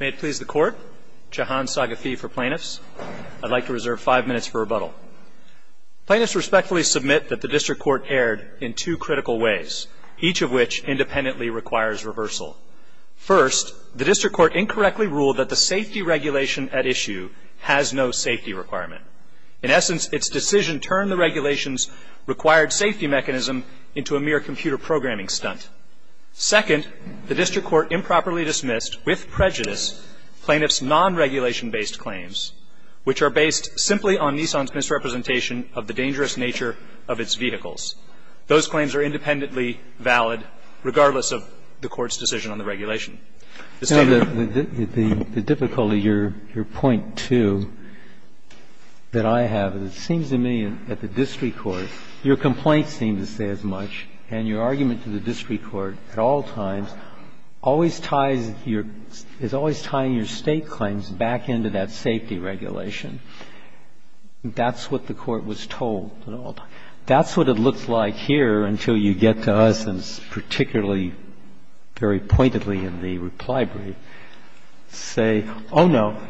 May it please the Court, Jahan Sagathee for Plaintiffs. I'd like to reserve five minutes for rebuttal. Plaintiffs respectfully submit that the District Court erred in two critical ways, each of which independently requires reversal. First, the District Court incorrectly ruled that the safety regulation at issue has no safety requirement. In essence, its decision turned the regulation's required safety mechanism into a mere computer programming stunt. Second, the District Court improperly dismissed, with prejudice, plaintiffs' non-regulation-based claims, which are based simply on Nissan's misrepresentation of the dangerous nature of its vehicles. Those claims are independently valid, regardless of the Court's decision on the regulation. This time, the other one would be the safety regulation at issue, and that's why I'm going to pause for a moment and say that the District Court, at all times, always ties your – is always tying your State claims back into that safety regulation. That's what the Court was told at all times. That's what it looks like here until you get to us, and particularly very pointedly in the reply brief, say, oh, no,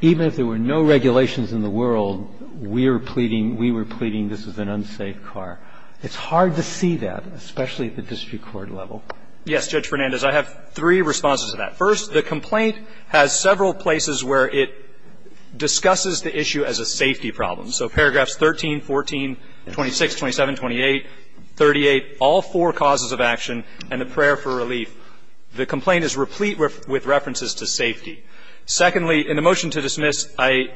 even if there were no regulations in the world, we're pleading – we were pleading this is an unsafe car. It's hard to see that, especially at the District Court level. Yes, Judge Fernandez, I have three responses to that. First, the complaint has several places where it discusses the issue as a safety problem. So paragraphs 13, 14, 26, 27, 28, 38, all four causes of action and the prayer for relief. The complaint is replete with references to safety. Secondly, in the motion to dismiss, I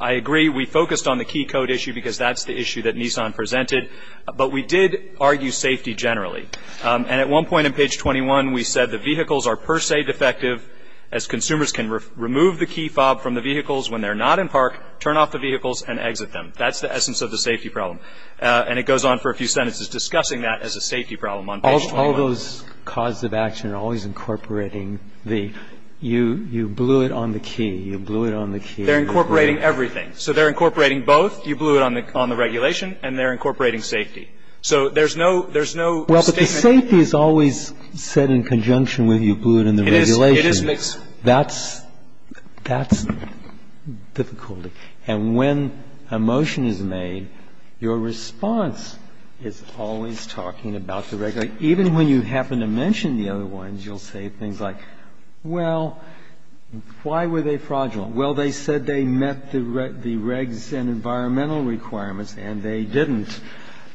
agree we focused on the key code issue because that's the issue that Nissan presented, but we did argue safety generally. And at one point in page 21, we said the vehicles are per se defective as consumers can remove the key fob from the vehicles when they're not in park, turn off the vehicles, and exit them. That's the essence of the safety problem. And it goes on for a few sentences discussing that as a safety problem on page 21. All those causes of action are always incorporating the – you blew it on the key. You blew it on the key. They're incorporating everything. So they're incorporating both. You blew it on the regulation, and they're incorporating safety. So there's no – there's no statement. Well, but the safety is always said in conjunction with you blew it on the regulation. It is mixed. That's – that's difficulty. And when a motion is made, your response is always talking about the regulation. Even when you happen to mention the other ones, you'll say things like, well, why were they fraudulent? Well, they said they met the regs and environmental requirements, and they didn't.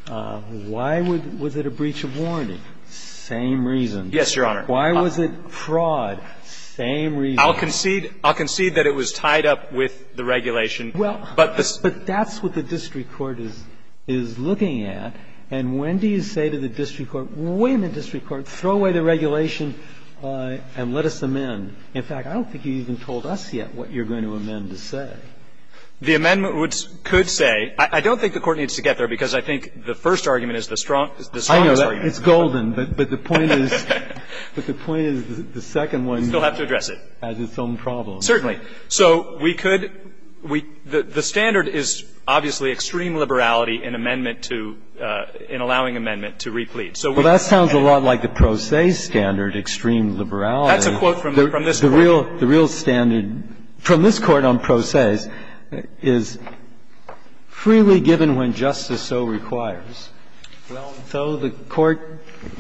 Why would – was it a breach of warranty? Same reason. Yes, Your Honor. Why was it fraud? Same reason. I'll concede – I'll concede that it was tied up with the regulation. Well, but that's what the district court is looking at. And when do you say to the district court, wait a minute, district court, throw away the regulation and let us amend? In fact, I don't think you even told us yet what you're going to amend to say. The amendment would – could say – I don't think the court needs to get there because I think the first argument is the strongest argument. I know that. It's golden. But the point is – but the point is the second one has its own problem. Certainly. So we could – we – the standard is obviously extreme liberality in amendment to – in allowing amendment to replete. Well, that sounds a lot like the pro se standard, extreme liberality. That's a quote from this Court. The real standard from this Court on pro ses is freely given when justice so requires. Well, though the court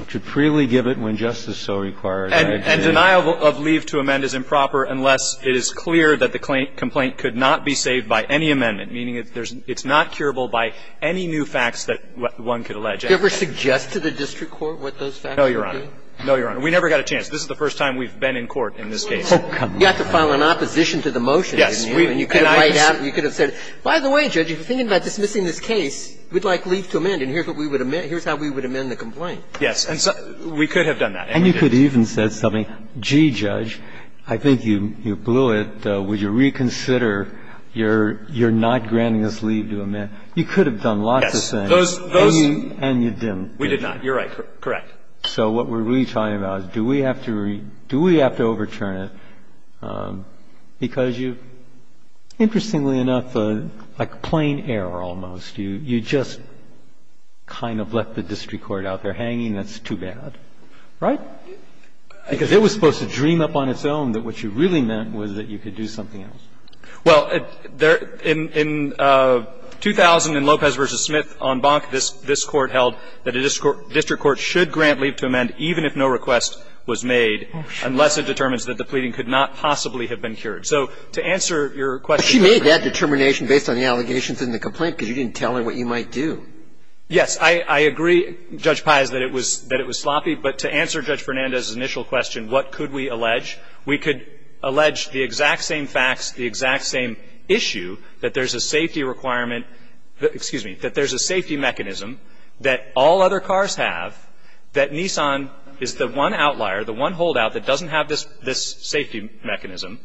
should freely give it when justice so requires. And denial of leave to amend is improper unless it is clear that the complaint could not be saved by any amendment, meaning it's not curable by any new facts that one could allege. Do you ever suggest to the district court what those facts would be? No, Your Honor. No, Your Honor. We never got a chance. This is the first time we've been in court in this case. Oh, come on. You got to file an opposition to the motion, didn't you? Yes. And you could have laid out – you could have said, by the way, Judge, if you're thinking about dismissing this case, we'd like leave to amend and here's what we would amend – here's how we would amend the complaint. Yes. And so we could have done that. And you could have even said something, gee, Judge, I think you blew it. Would you reconsider? You're not granting us leave to amend. You could have done lots of things. Yes. Those – those – And you didn't. We did not. You're right. Correct. So what we're really talking about is do we have to – do we have to overturn it? Because you've, interestingly enough, like a plain error almost. You just kind of left the district court out there hanging. That's too bad. Right? Because it was supposed to dream up on its own that what you really meant was that you could do something else. Well, there – in – in 2000, in Lopez v. Smith on Bonk, this – this Court held that a district court should grant leave to amend even if no request was made unless it determines that the pleading could not possibly have been cured. So to answer your question – But she made that determination based on the allegations in the complaint because you didn't tell her what you might do. Yes. I – I agree, Judge Pais, that it was – that it was sloppy. But to answer Judge Fernandez's initial question, what could we allege, we could allege the exact same facts, the exact same issue, that there's a safety requirement – excuse me – that there's a safety mechanism that all other cars have, that Nissan is the one outlier, the one holdout that doesn't have this – this safety mechanism,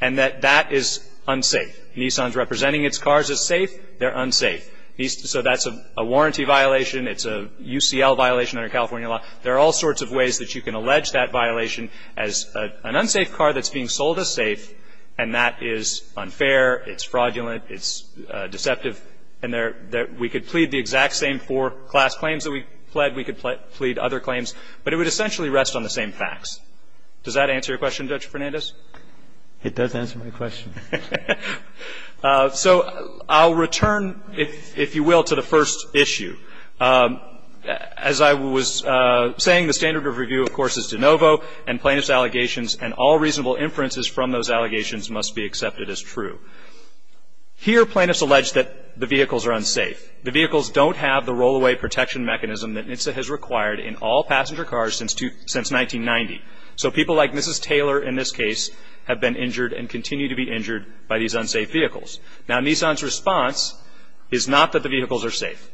and that that is unsafe. Nissan's representing its cars as safe. They're unsafe. So that's a warranty violation. It's a UCL violation under California law. There are all sorts of ways that you can allege that violation as an unsafe car that's being sold as safe, and that is unfair, it's fraudulent, it's deceptive. And there – we could plead the exact same four class claims that we pled. We could plead other claims. But it would essentially rest on the same facts. Does that answer your question, Judge Fernandez? It does answer my question. So I'll return, if you will, to the first issue. As I was saying, the standard of review, of course, is de novo, and plaintiff's allegations and all reasonable inferences from those allegations must be accepted as true. Here, plaintiffs allege that the vehicles are unsafe. The vehicles don't have the rollaway protection mechanism that NHTSA has required in all passenger cars since 1990. So people like Mrs. Taylor, in this case, have been injured and continue to be injured by these unsafe vehicles. Now, Nissan's response is not that the vehicles are safe.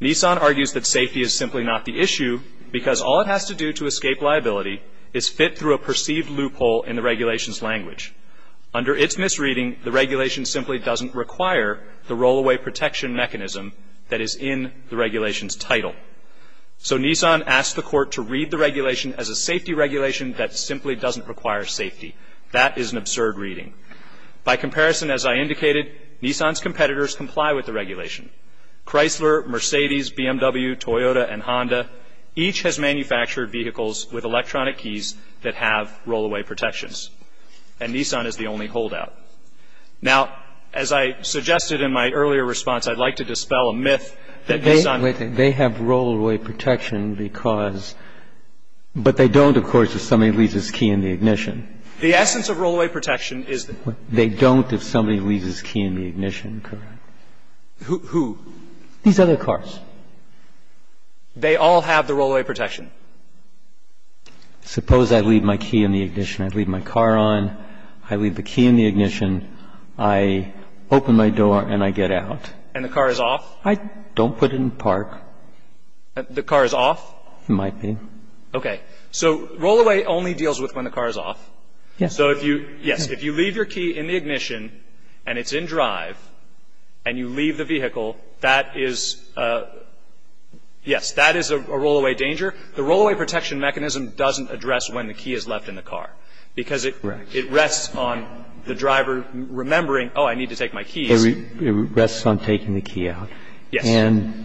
Nissan argues that safety is simply not the issue because all it has to do to escape liability is fit through a perceived loophole in the regulation's language. Under its misreading, the regulation simply doesn't require the rollaway protection mechanism that is in the regulation's title. So Nissan asks the Court to read the regulation as a safety regulation that simply doesn't require safety. That is an absurd reading. By comparison, as I indicated, Nissan's competitors comply with the regulation. Chrysler, Mercedes, BMW, Toyota, and Honda, each has manufactured vehicles with electronic keys that have rollaway protections. And Nissan is the only holdout. Now, as I suggested in my earlier response, I'd like to dispel a myth that Nissan They have rollaway protection because they don't, of course, if somebody leaves his key in the ignition. The essence of rollaway protection is that They don't if somebody leaves his key in the ignition, correct? Who? These other cars. They all have the rollaway protection? Suppose I leave my key in the ignition. I leave my car on. I leave the key in the ignition. I open my door and I get out. And the car is off? I don't put it in park. The car is off? It might be. Okay. So rollaway only deals with when the car is off. So if you, yes, if you leave your key in the ignition, and it's in drive, and you leave the vehicle, that is, yes, that is a rollaway danger. The rollaway protection mechanism doesn't address when the key is left in the car. Because it rests on the driver remembering, oh, I need to take my key. It rests on taking the key out. Yes. And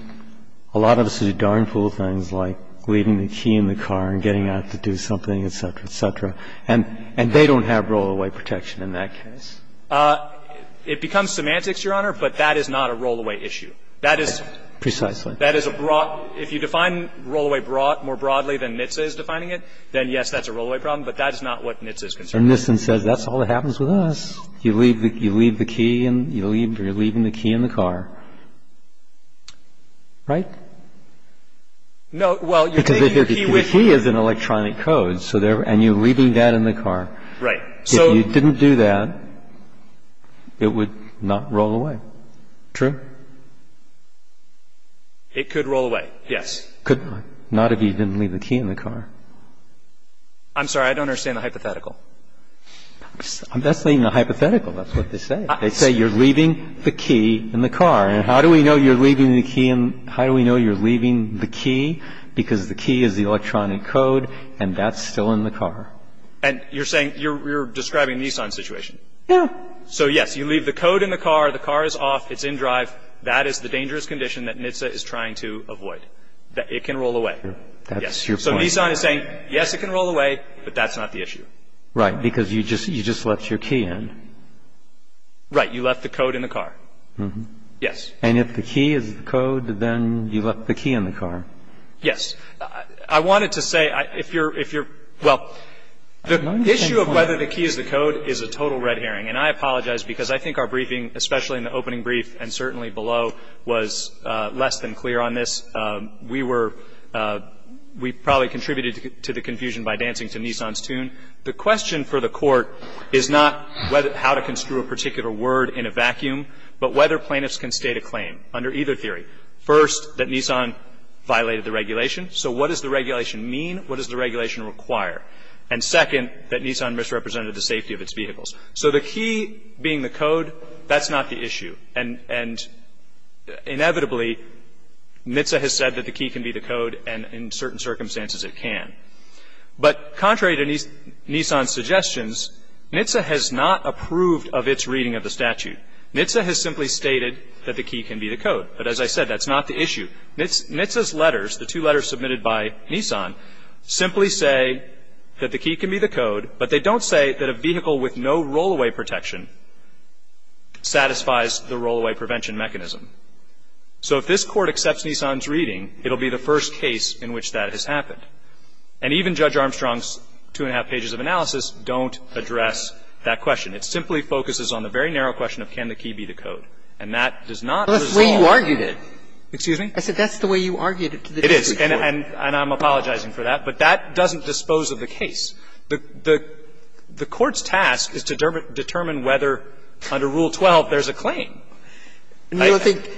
a lot of us do darn fool things like leaving the key in the car and getting out to do something, et cetera, et cetera. And they don't have rollaway protection in that case. It becomes semantics, Your Honor, but that is not a rollaway issue. That is a broad – if you define rollaway more broadly than NHTSA is defining it, then, yes, that's a rollaway problem. But that is not what NHTSA is concerned with. And NHTSA says that's all that happens with us. You leave the key and you're leaving the key in the car. Right? No. Well, you're taking your key with you. And you're leaving that in the car. Right. If you didn't do that, it would not roll away. True? It could roll away, yes. Could not, not if you didn't leave the key in the car. I'm sorry. I don't understand the hypothetical. That's not even a hypothetical. That's what they say. They say you're leaving the key in the car. And how do we know you're leaving the key in – how do we know you're leaving the key? Because the key is the electronic code and that's still in the car. And you're saying – you're describing a Nissan situation. Yeah. So, yes, you leave the code in the car. The car is off. It's in drive. That is the dangerous condition that NHTSA is trying to avoid, that it can roll away. That's your point. So Nissan is saying, yes, it can roll away, but that's not the issue. Right. Because you just left your key in. Right. You left the code in the car. Yes. And if the key is the code, then you left the key in the car. Yes. I wanted to say, if you're – well, the issue of whether the key is the code is a total red herring. And I apologize because I think our briefing, especially in the opening brief and certainly below, was less than clear on this. We were – we probably contributed to the confusion by dancing to Nissan's tune. The question for the Court is not how to construe a particular word in a vacuum, but whether plaintiffs can state a claim under either theory. First, that Nissan violated the regulation. So what does the regulation mean? What does the regulation require? And second, that Nissan misrepresented the safety of its vehicles. So the key being the code, that's not the issue. And inevitably, NHTSA has said that the key can be the code, and in certain circumstances it can. But contrary to Nissan's suggestions, NHTSA has not approved of its reading of the statute. NHTSA has simply stated that the key can be the code. But as I said, that's not the issue. NHTSA's letters, the two letters submitted by Nissan, simply say that the key can be the code, but they don't say that a vehicle with no roll-away protection satisfies the roll-away prevention mechanism. So if this Court accepts Nissan's reading, it will be the first case in which that has happened. And even Judge Armstrong's two-and-a-half pages of analysis don't address that question. It simply focuses on the very narrow question of can the key be the code. And that does not resolve the issue. And that's the way you argued it. Excuse me? I said that's the way you argued it to the district court. It is, and I'm apologizing for that. But that doesn't dispose of the case. The Court's task is to determine whether under Rule 12 there's a claim. And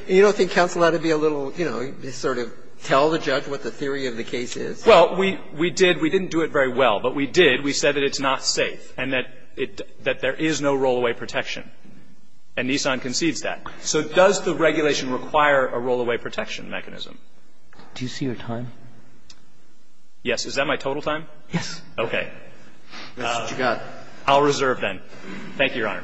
you don't think counsel ought to be a little, you know, sort of tell the judge what the theory of the case is? Well, we did. We didn't do it very well. But we did. We said that it's not safe and that there is no roll-away protection. And Nissan concedes that. So does the regulation require a roll-away protection mechanism? Do you see your time? Yes. Is that my total time? Yes. Okay. That's what you got. I'll reserve, then. Thank you, Your Honor.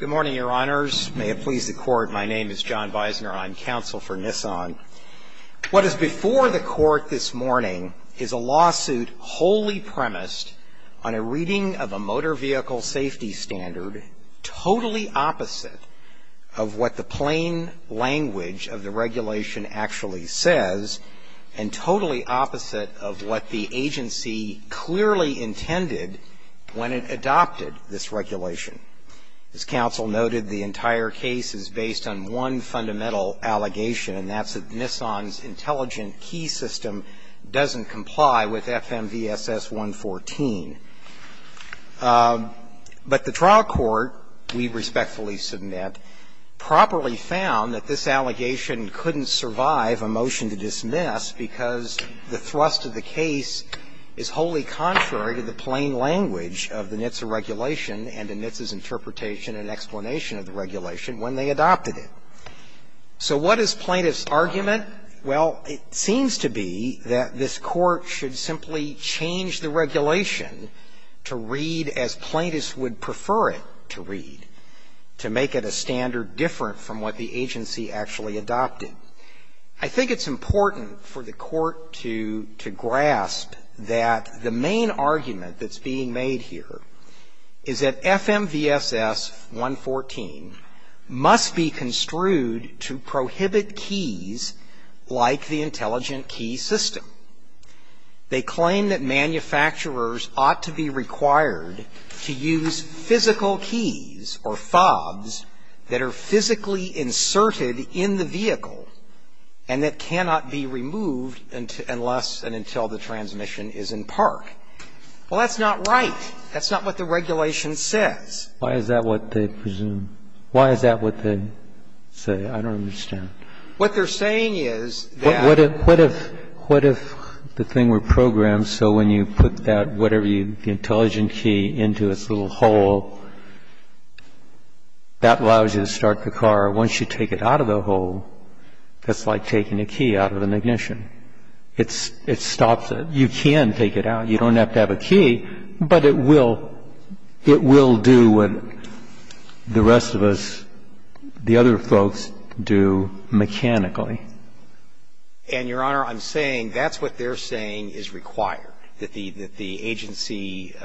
Good morning, Your Honors. May it please the Court. My name is John Weisner. I'm counsel for Nissan. What is before the Court this morning is a lawsuit wholly premised on a reading of a motor vehicle safety standard totally opposite of what the plain language of the regulation actually says, and totally opposite of what the agency clearly intended when it adopted this regulation. As counsel noted, the entire case is based on one fundamental allegation, and that's that Nissan's intelligent key system doesn't comply with FMVSS 114. But the trial court, we respectfully submit, properly found that this allegation couldn't survive a motion to dismiss because the thrust of the case is wholly contrary to the plain language of the NHTSA regulation and NHTSA's interpretation and explanation of the regulation when they adopted it. So what is plaintiff's argument? Well, it seems to be that this Court should simply change the regulation to read as plaintiffs would prefer it to read, to make it a standard different from what the agency actually adopted. I think it's important for the Court to grasp that the main argument that's being made here is that FMVSS 114 must be construed to prohibit keys like the intelligent key system. They claim that manufacturers ought to be required to use physical keys or fobs that are physically inserted in the vehicle and that cannot be removed unless and until the transmission is in park. Well, that's not right. That's not what the regulation says. Why is that what they presume? Why is that what they say? I don't understand. What they're saying is that what if, what if, what if the thing were programmed so when you put that whatever you, the intelligent key into its little hole, that allows you to start the car. Once you take it out of the hole, it's like taking a key out of an ignition. It's, it stops it. You can take it out. You don't have to have a key, but it will, it will do what the rest of us, the other folks do mechanically. And, Your Honor, I'm saying that's what they're saying is required, that the, that the agency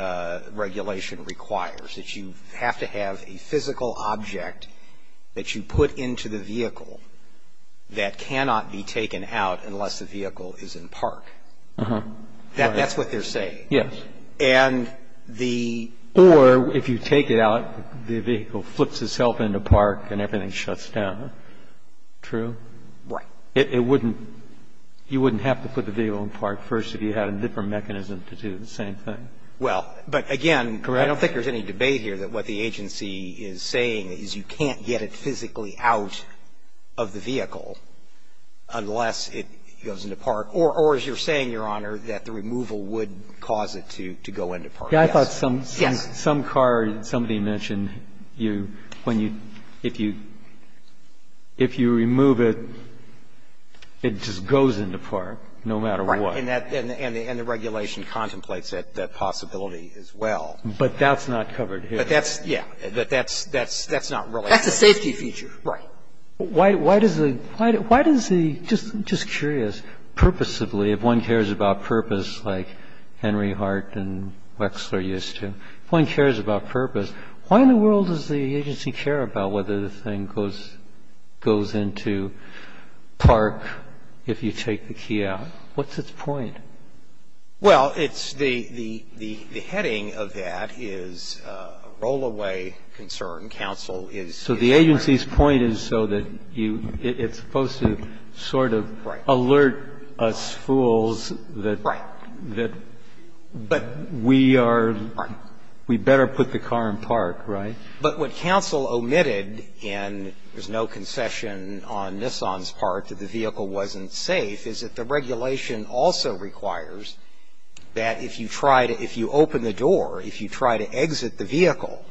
regulation requires, that you have to have a physical object that you put into the vehicle that cannot be taken out unless the vehicle is in park. Uh-huh. That's what they're saying. Yes. And the ---- Or if you take it out, the vehicle flips itself into park and everything shuts down. True? Right. It wouldn't, you wouldn't have to put the vehicle in park first if you had a different mechanism to do the same thing. Well, but again, I don't think there's any debate here that what the agency is saying is you can't get it physically out of the vehicle unless it goes into park. Or as you're saying, Your Honor, that the removal would cause it to, to go into park. Yes. Yes. I thought some, some car, somebody mentioned you, when you, if you, if you remove it, it just goes into park no matter what. Right. And that, and the regulation contemplates that possibility as well. But that's not covered here. But that's, yeah. That's, that's, that's not related. That's a safety feature. Right. Why, why does the, why does the, just, just curious, purposively, if one cares about purpose, like Henry Hart and Wexler used to, if one cares about purpose, why in the world does the agency care about whether the thing goes, goes into park if you take the key out? What's its point? Well, it's the, the, the heading of that is a rollaway concern. Counsel is. So the agency's point is so that you, it's supposed to sort of. Right. Alert us fools that. Right. That. But. We are. Right. We better put the car in park, right? But what counsel omitted, and there's no concession on Nissan's part that the vehicle wasn't safe, is that the regulation also requires that if you try to, if you open the door, if you try to exit the vehicle,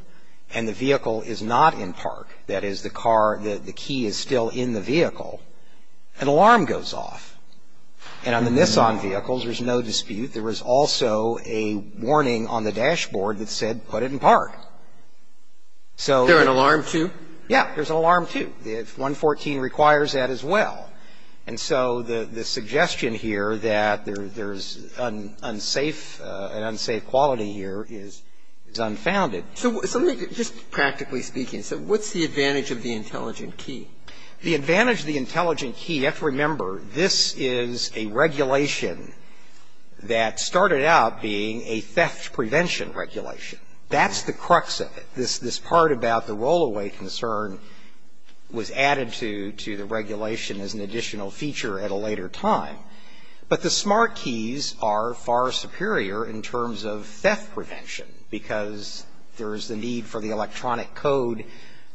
and the vehicle is not in park, that is, the car, the, the key is still in the vehicle, an alarm goes off. And on the Nissan vehicles, there's no dispute. There was also a warning on the dashboard that said put it in park. So. Is there an alarm, too? Yeah. There's an alarm, too. The 114 requires that as well. And so the, the suggestion here that there's an unsafe, an unsafe quality here is, is unfounded. So let me, just practically speaking. So what's the advantage of the intelligent key? The advantage of the intelligent key, you have to remember, this is a regulation that started out being a theft prevention regulation. That's the crux of it. This, this part about the roll-away concern was added to, to the regulation as an additional feature at a later time. But the smart keys are far superior in terms of theft prevention, because there is the need for the electronic code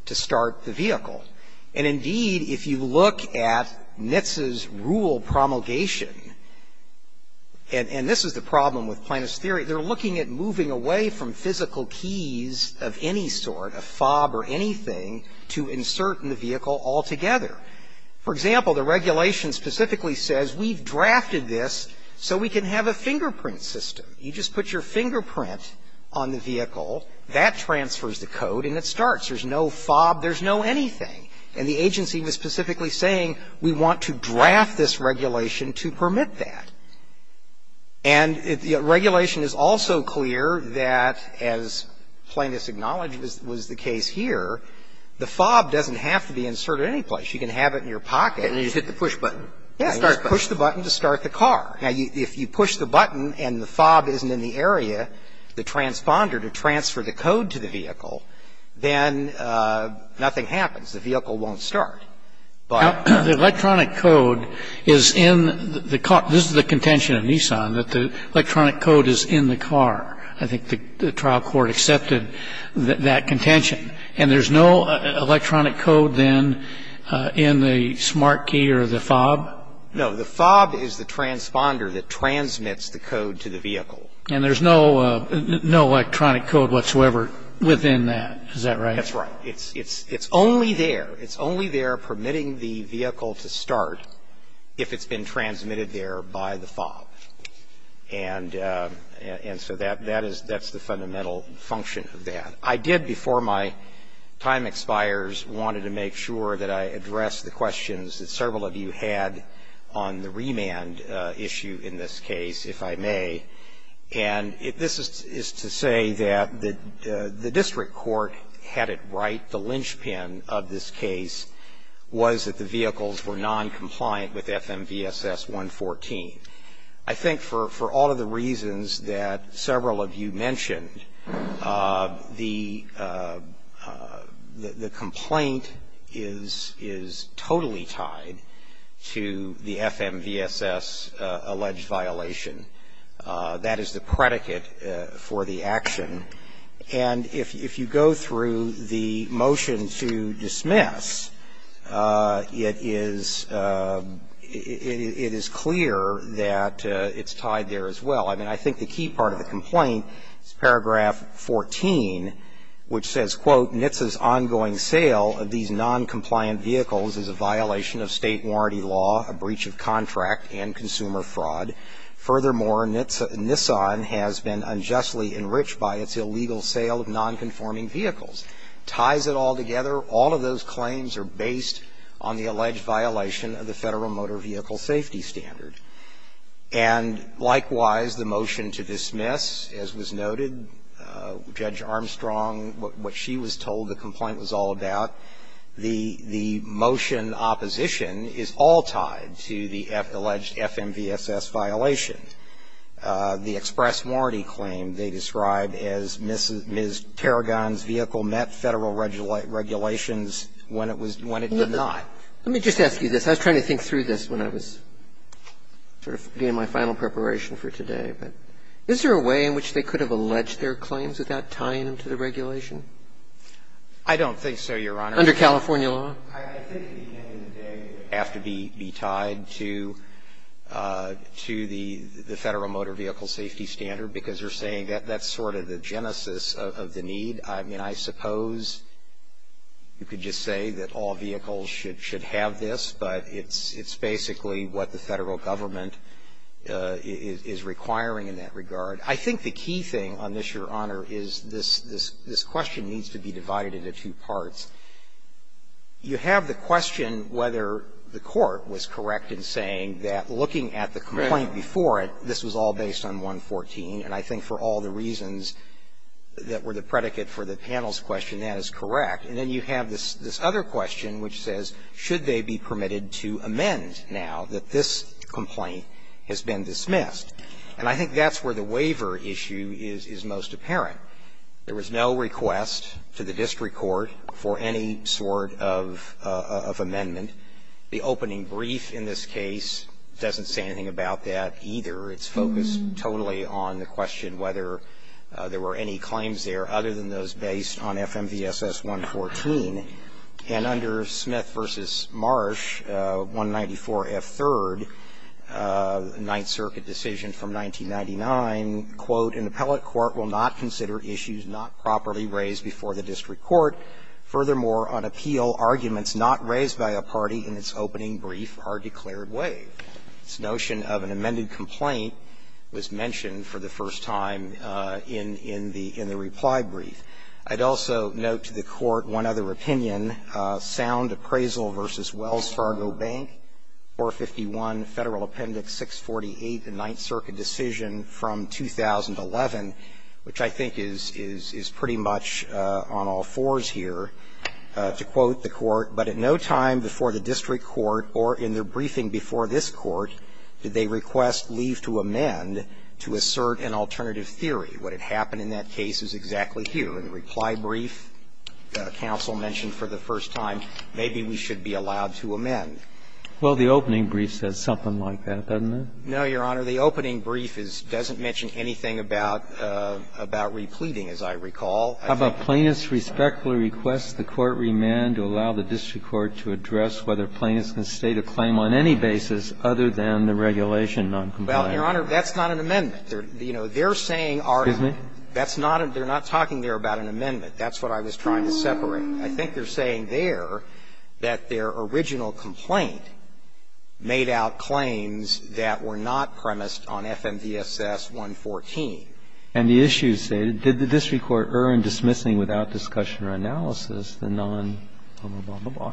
to start the vehicle. And indeed, if you look at NHTSA's rule promulgation, and, and this is the problem with plaintiff's theory. They're looking at moving away from physical keys of any sort, a fob or anything, to insert in the vehicle altogether. For example, the regulation specifically says, we've drafted this so we can have a fingerprint system. You just put your fingerprint on the vehicle. That transfers the code, and it starts. There's no fob. There's no anything. And the agency was specifically saying, we want to draft this regulation to permit that. And the regulation is also clear that, as Plaintiff's acknowledged was, was the case here, the fob doesn't have to be inserted anyplace. You can have it in your pocket. And you just hit the push button. Yeah. Start button. You just push the button to start the car. Now, if you push the button and the fob isn't in the area, the transponder to transfer the code to the vehicle, then nothing happens. The vehicle won't start. The electronic code is in the car. This is the contention of Nissan, that the electronic code is in the car. I think the trial court accepted that contention. And there's no electronic code, then, in the smart key or the fob? No. The fob is the transponder that transmits the code to the vehicle. And there's no electronic code whatsoever within that. Is that right? That's right. It's only there. It's only there permitting the vehicle to start if it's been transmitted there by the fob. And so that's the fundamental function of that. I did, before my time expires, wanted to make sure that I addressed the questions that several of you had on the remand issue in this case, if I may. And this is to say that the district court had it right, the linchpin of this case was that the vehicles were noncompliant with FMVSS 114. I think for all of the reasons that several of you mentioned, the complaint is totally tied to the FMVSS alleged violation. That is the predicate for the action. And if you go through the motion to dismiss, it is clear that it's tied there as well. I mean, I think the key part of the complaint is paragraph 14, which says, quote, And likewise, the motion to dismiss, as was noted, Judge Armstrong, what she was told the complaint was all about, the motion opposition is all tied to the alleged FMVSS violation. The express warranty claim they described as Ms. Tarragon's vehicle met Federal regulations when it was not. Let me just ask you this. I was trying to think through this when I was sort of getting my final preparation for today. Is there a way in which they could have alleged their claims without tying them to the regulation? I don't think so, Your Honor. Under California law? I think at the end of the day it would have to be tied to the Federal motor vehicle safety standard, because you're saying that that's sort of the genesis of the need. I mean, I suppose you could just say that all vehicles should have this, but it's basically what the Federal government is requiring in that regard. I think the key thing on this, Your Honor, is this question needs to be divided into two parts. You have the question whether the court was correct in saying that looking at the complaint before it, this was all based on 114. And I think for all the reasons that were the predicate for the panel's question, that is correct. And then you have this other question which says, should they be permitted to amend now that this complaint has been dismissed? And I think that's where the waiver issue is most apparent. There was no request to the district court for any sort of amendment. The opening brief in this case doesn't say anything about that either. It's focused totally on the question whether there were any claims there other than those based on FMVSS 114. And under Smith v. Marsh, 194F3rd, Ninth Circuit decision from 1999, quote, an appellate court will not consider issues not properly raised before the district court. Furthermore, on appeal, arguments not raised by a party in its opening brief are declared waived. This notion of an amended complaint was mentioned for the first time in the reply brief. I'd also note to the Court one other opinion, Sound Appraisal v. Wells Fargo Bank, 451 Federal Appendix 648, the Ninth Circuit decision from 2011, which I think is pretty much on all fours here, to quote the Court, but at no time before the district court or in their briefing before this Court did they request leave to amend to assert an alternative theory. What had happened in that case is exactly here. In the reply brief, counsel mentioned for the first time, maybe we should be allowed to amend. Well, the opening brief says something like that, doesn't it? No, Your Honor. The opening brief doesn't mention anything about repleting, as I recall. How about plaintiffs respectfully request the court remand to allow the district court to address whether plaintiffs can state a claim on any basis other than the regulation noncompliance? Well, Your Honor, that's not an amendment. You know, they're saying our -- Excuse me? That's not a -- they're not talking there about an amendment. That's what I was trying to separate. I think they're saying there that their original complaint made out claims that were not premised on FMVSS 114. And the issue stated, did the district court err in dismissing without discussion or analysis the nonhonorable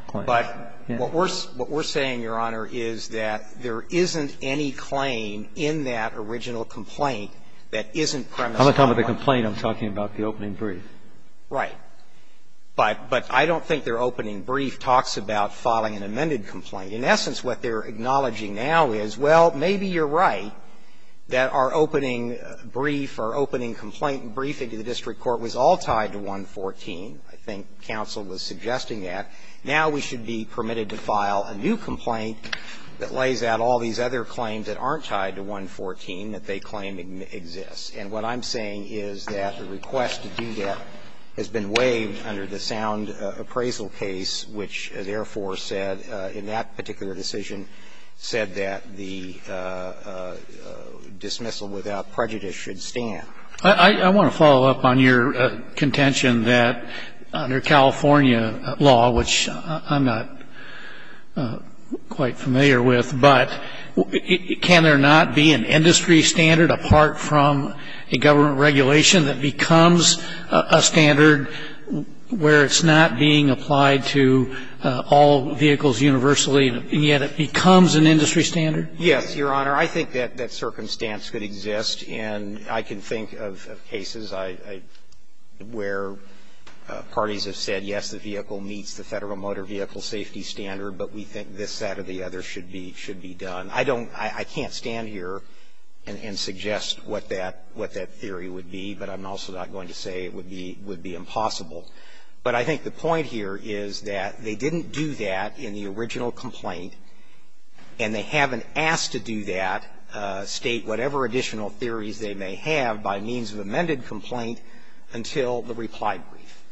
claim? But what we're saying, Your Honor, is that there isn't any claim in that original complaint that isn't premised on that. I'm not talking about the complaint. I'm talking about the opening brief. Right. But I don't think their opening brief talks about filing an amended complaint. In essence, what they're acknowledging now is, well, maybe you're right that our opening brief, our opening complaint briefing to the district court was all tied to 114. I think counsel was suggesting that. Now we should be permitted to file a new complaint that lays out all these other that they claim exists. And what I'm saying is that the request to do that has been waived under the sound appraisal case, which therefore said, in that particular decision, said that the dismissal without prejudice should stand. I want to follow up on your contention that under California law, which I'm not quite familiar with, but can there not be an industry standard apart from a government regulation that becomes a standard where it's not being applied to all vehicles universally, and yet it becomes an industry standard? Yes, Your Honor. I think that that circumstance could exist. And I can think of cases where parties have said, yes, the vehicle meets the Federal Motor Vehicle Safety Standard, but we think this, that, or the other should be done. I don't, I can't stand here and suggest what that theory would be, but I'm also not going to say it would be impossible. But I think the point here is that they didn't do that in the original complaint, and they haven't asked to do that, state whatever additional theories they may have by means of amended complaint until the reply brief.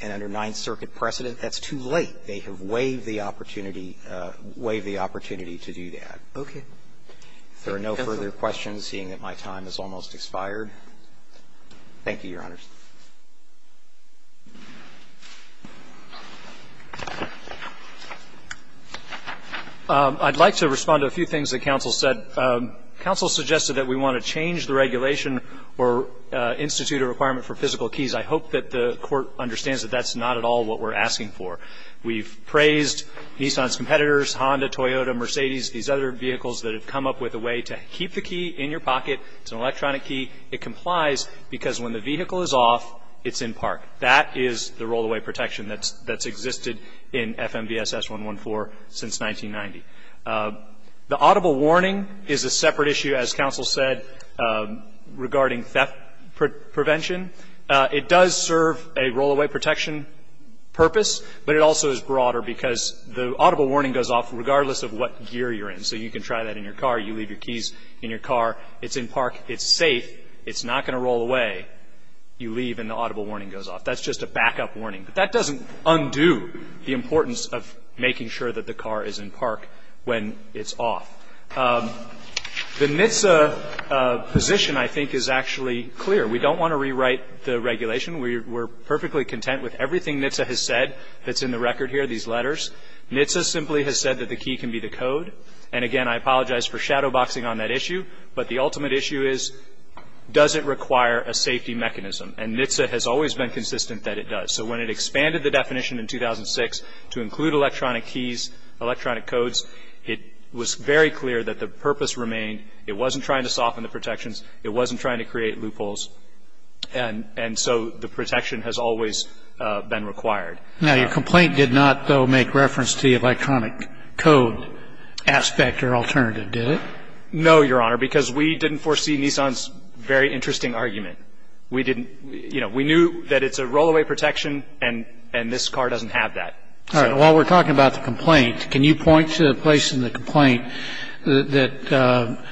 And under Ninth Circuit precedent, that's too late. They have waived the opportunity, waived the opportunity to do that. Thank you, counsel. If there are no further questions, seeing that my time has almost expired, thank you, Your Honors. I'd like to respond to a few things that counsel said. Counsel suggested that we want to change the regulation or institute a requirement for physical keys. I hope that the Court understands that that's not at all what we're asking for. We've praised Nissan's competitors, Honda, Toyota, Mercedes, these other vehicles that have come up with a way to keep the key in your pocket. It's an electronic key. It complies because when the vehicle is off, it's in park. That is the roll-away protection that's existed in FMVSS 114 since 1990. The audible warning is a separate issue, as counsel said, regarding theft prevention. It does serve a roll-away protection purpose, but it also is broader because the audible warning goes off regardless of what gear you're in. So you can try that in your car. You leave your keys in your car. It's in park. It's safe. It's not going to roll away. You leave, and the audible warning goes off. That's just a backup warning. But that doesn't undo the importance of making sure that the car is in park when it's off. The NHTSA position, I think, is actually clear. We don't want to rewrite the regulation. We're perfectly content with everything NHTSA has said that's in the record here, these letters. NHTSA simply has said that the key can be the code. And again, I apologize for shadowboxing on that issue. But the ultimate issue is, does it require a safety mechanism? And NHTSA has always been consistent that it does. So when it expanded the definition in 2006 to include electronic keys, electronic codes, it was very clear that the purpose remained. It wasn't trying to soften the protections. It wasn't trying to create loopholes. And so the protection has always been required. Now, your complaint did not, though, make reference to the electronic code aspect or alternative, did it? No, Your Honor, because we didn't foresee Nissan's very interesting argument. We didn't. You know, we knew that it's a rollaway protection, and this car doesn't have that. All right. So the defense has made a point that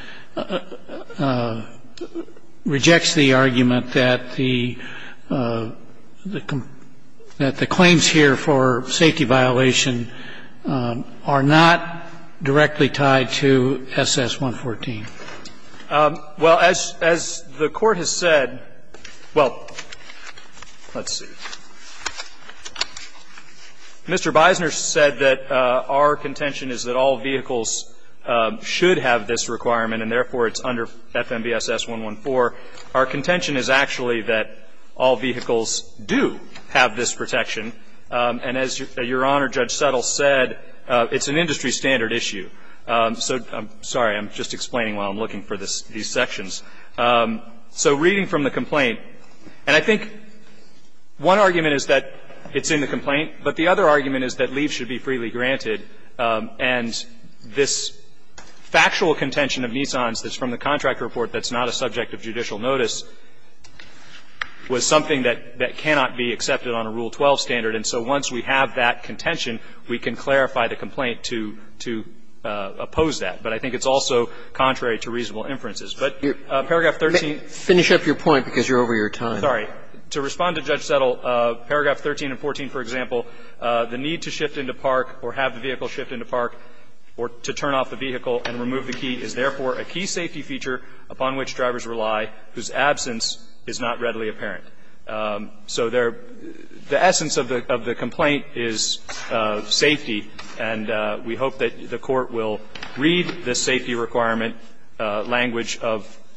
rejects the argument that the claims here for safety violation are not directly tied to SS-114. Well, as the Court has said – well, let's see. Mr. Beisner said that our contention is that all vehicles should have this requirement and, therefore, it's under FMVSS-114. Our contention is actually that all vehicles do have this protection. And as Your Honor, Judge Settle said, it's an industry standard issue. So I'm sorry. I'm just explaining while I'm looking for these sections. So reading from the complaint, and I think one argument is that, you know, there's a reasonable inference that it's in the complaint. But the other argument is that leaves should be freely granted, and this factual contention of Nissan's that's from the contract report that's not a subject of judicial notice was something that cannot be accepted on a Rule 12 standard. And so once we have that contention, we can clarify the complaint to oppose that. But I think it's also contrary to reasonable inferences. But paragraph 13 – Finish up your point because you're over your time. Sorry. To respond to Judge Settle, paragraph 13 and 14, for example, the need to shift into park or have the vehicle shift into park or to turn off the vehicle and remove the key is, therefore, a key safety feature upon which drivers rely whose absence is not readily apparent. So the essence of the complaint is safety, and we hope that the Court will read the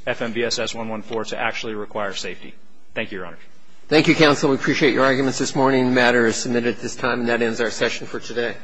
FMVSS114 to actually require safety. Thank you, Your Honor. Thank you, counsel. We appreciate your arguments this morning. The matter is submitted at this time, and that ends our session for today.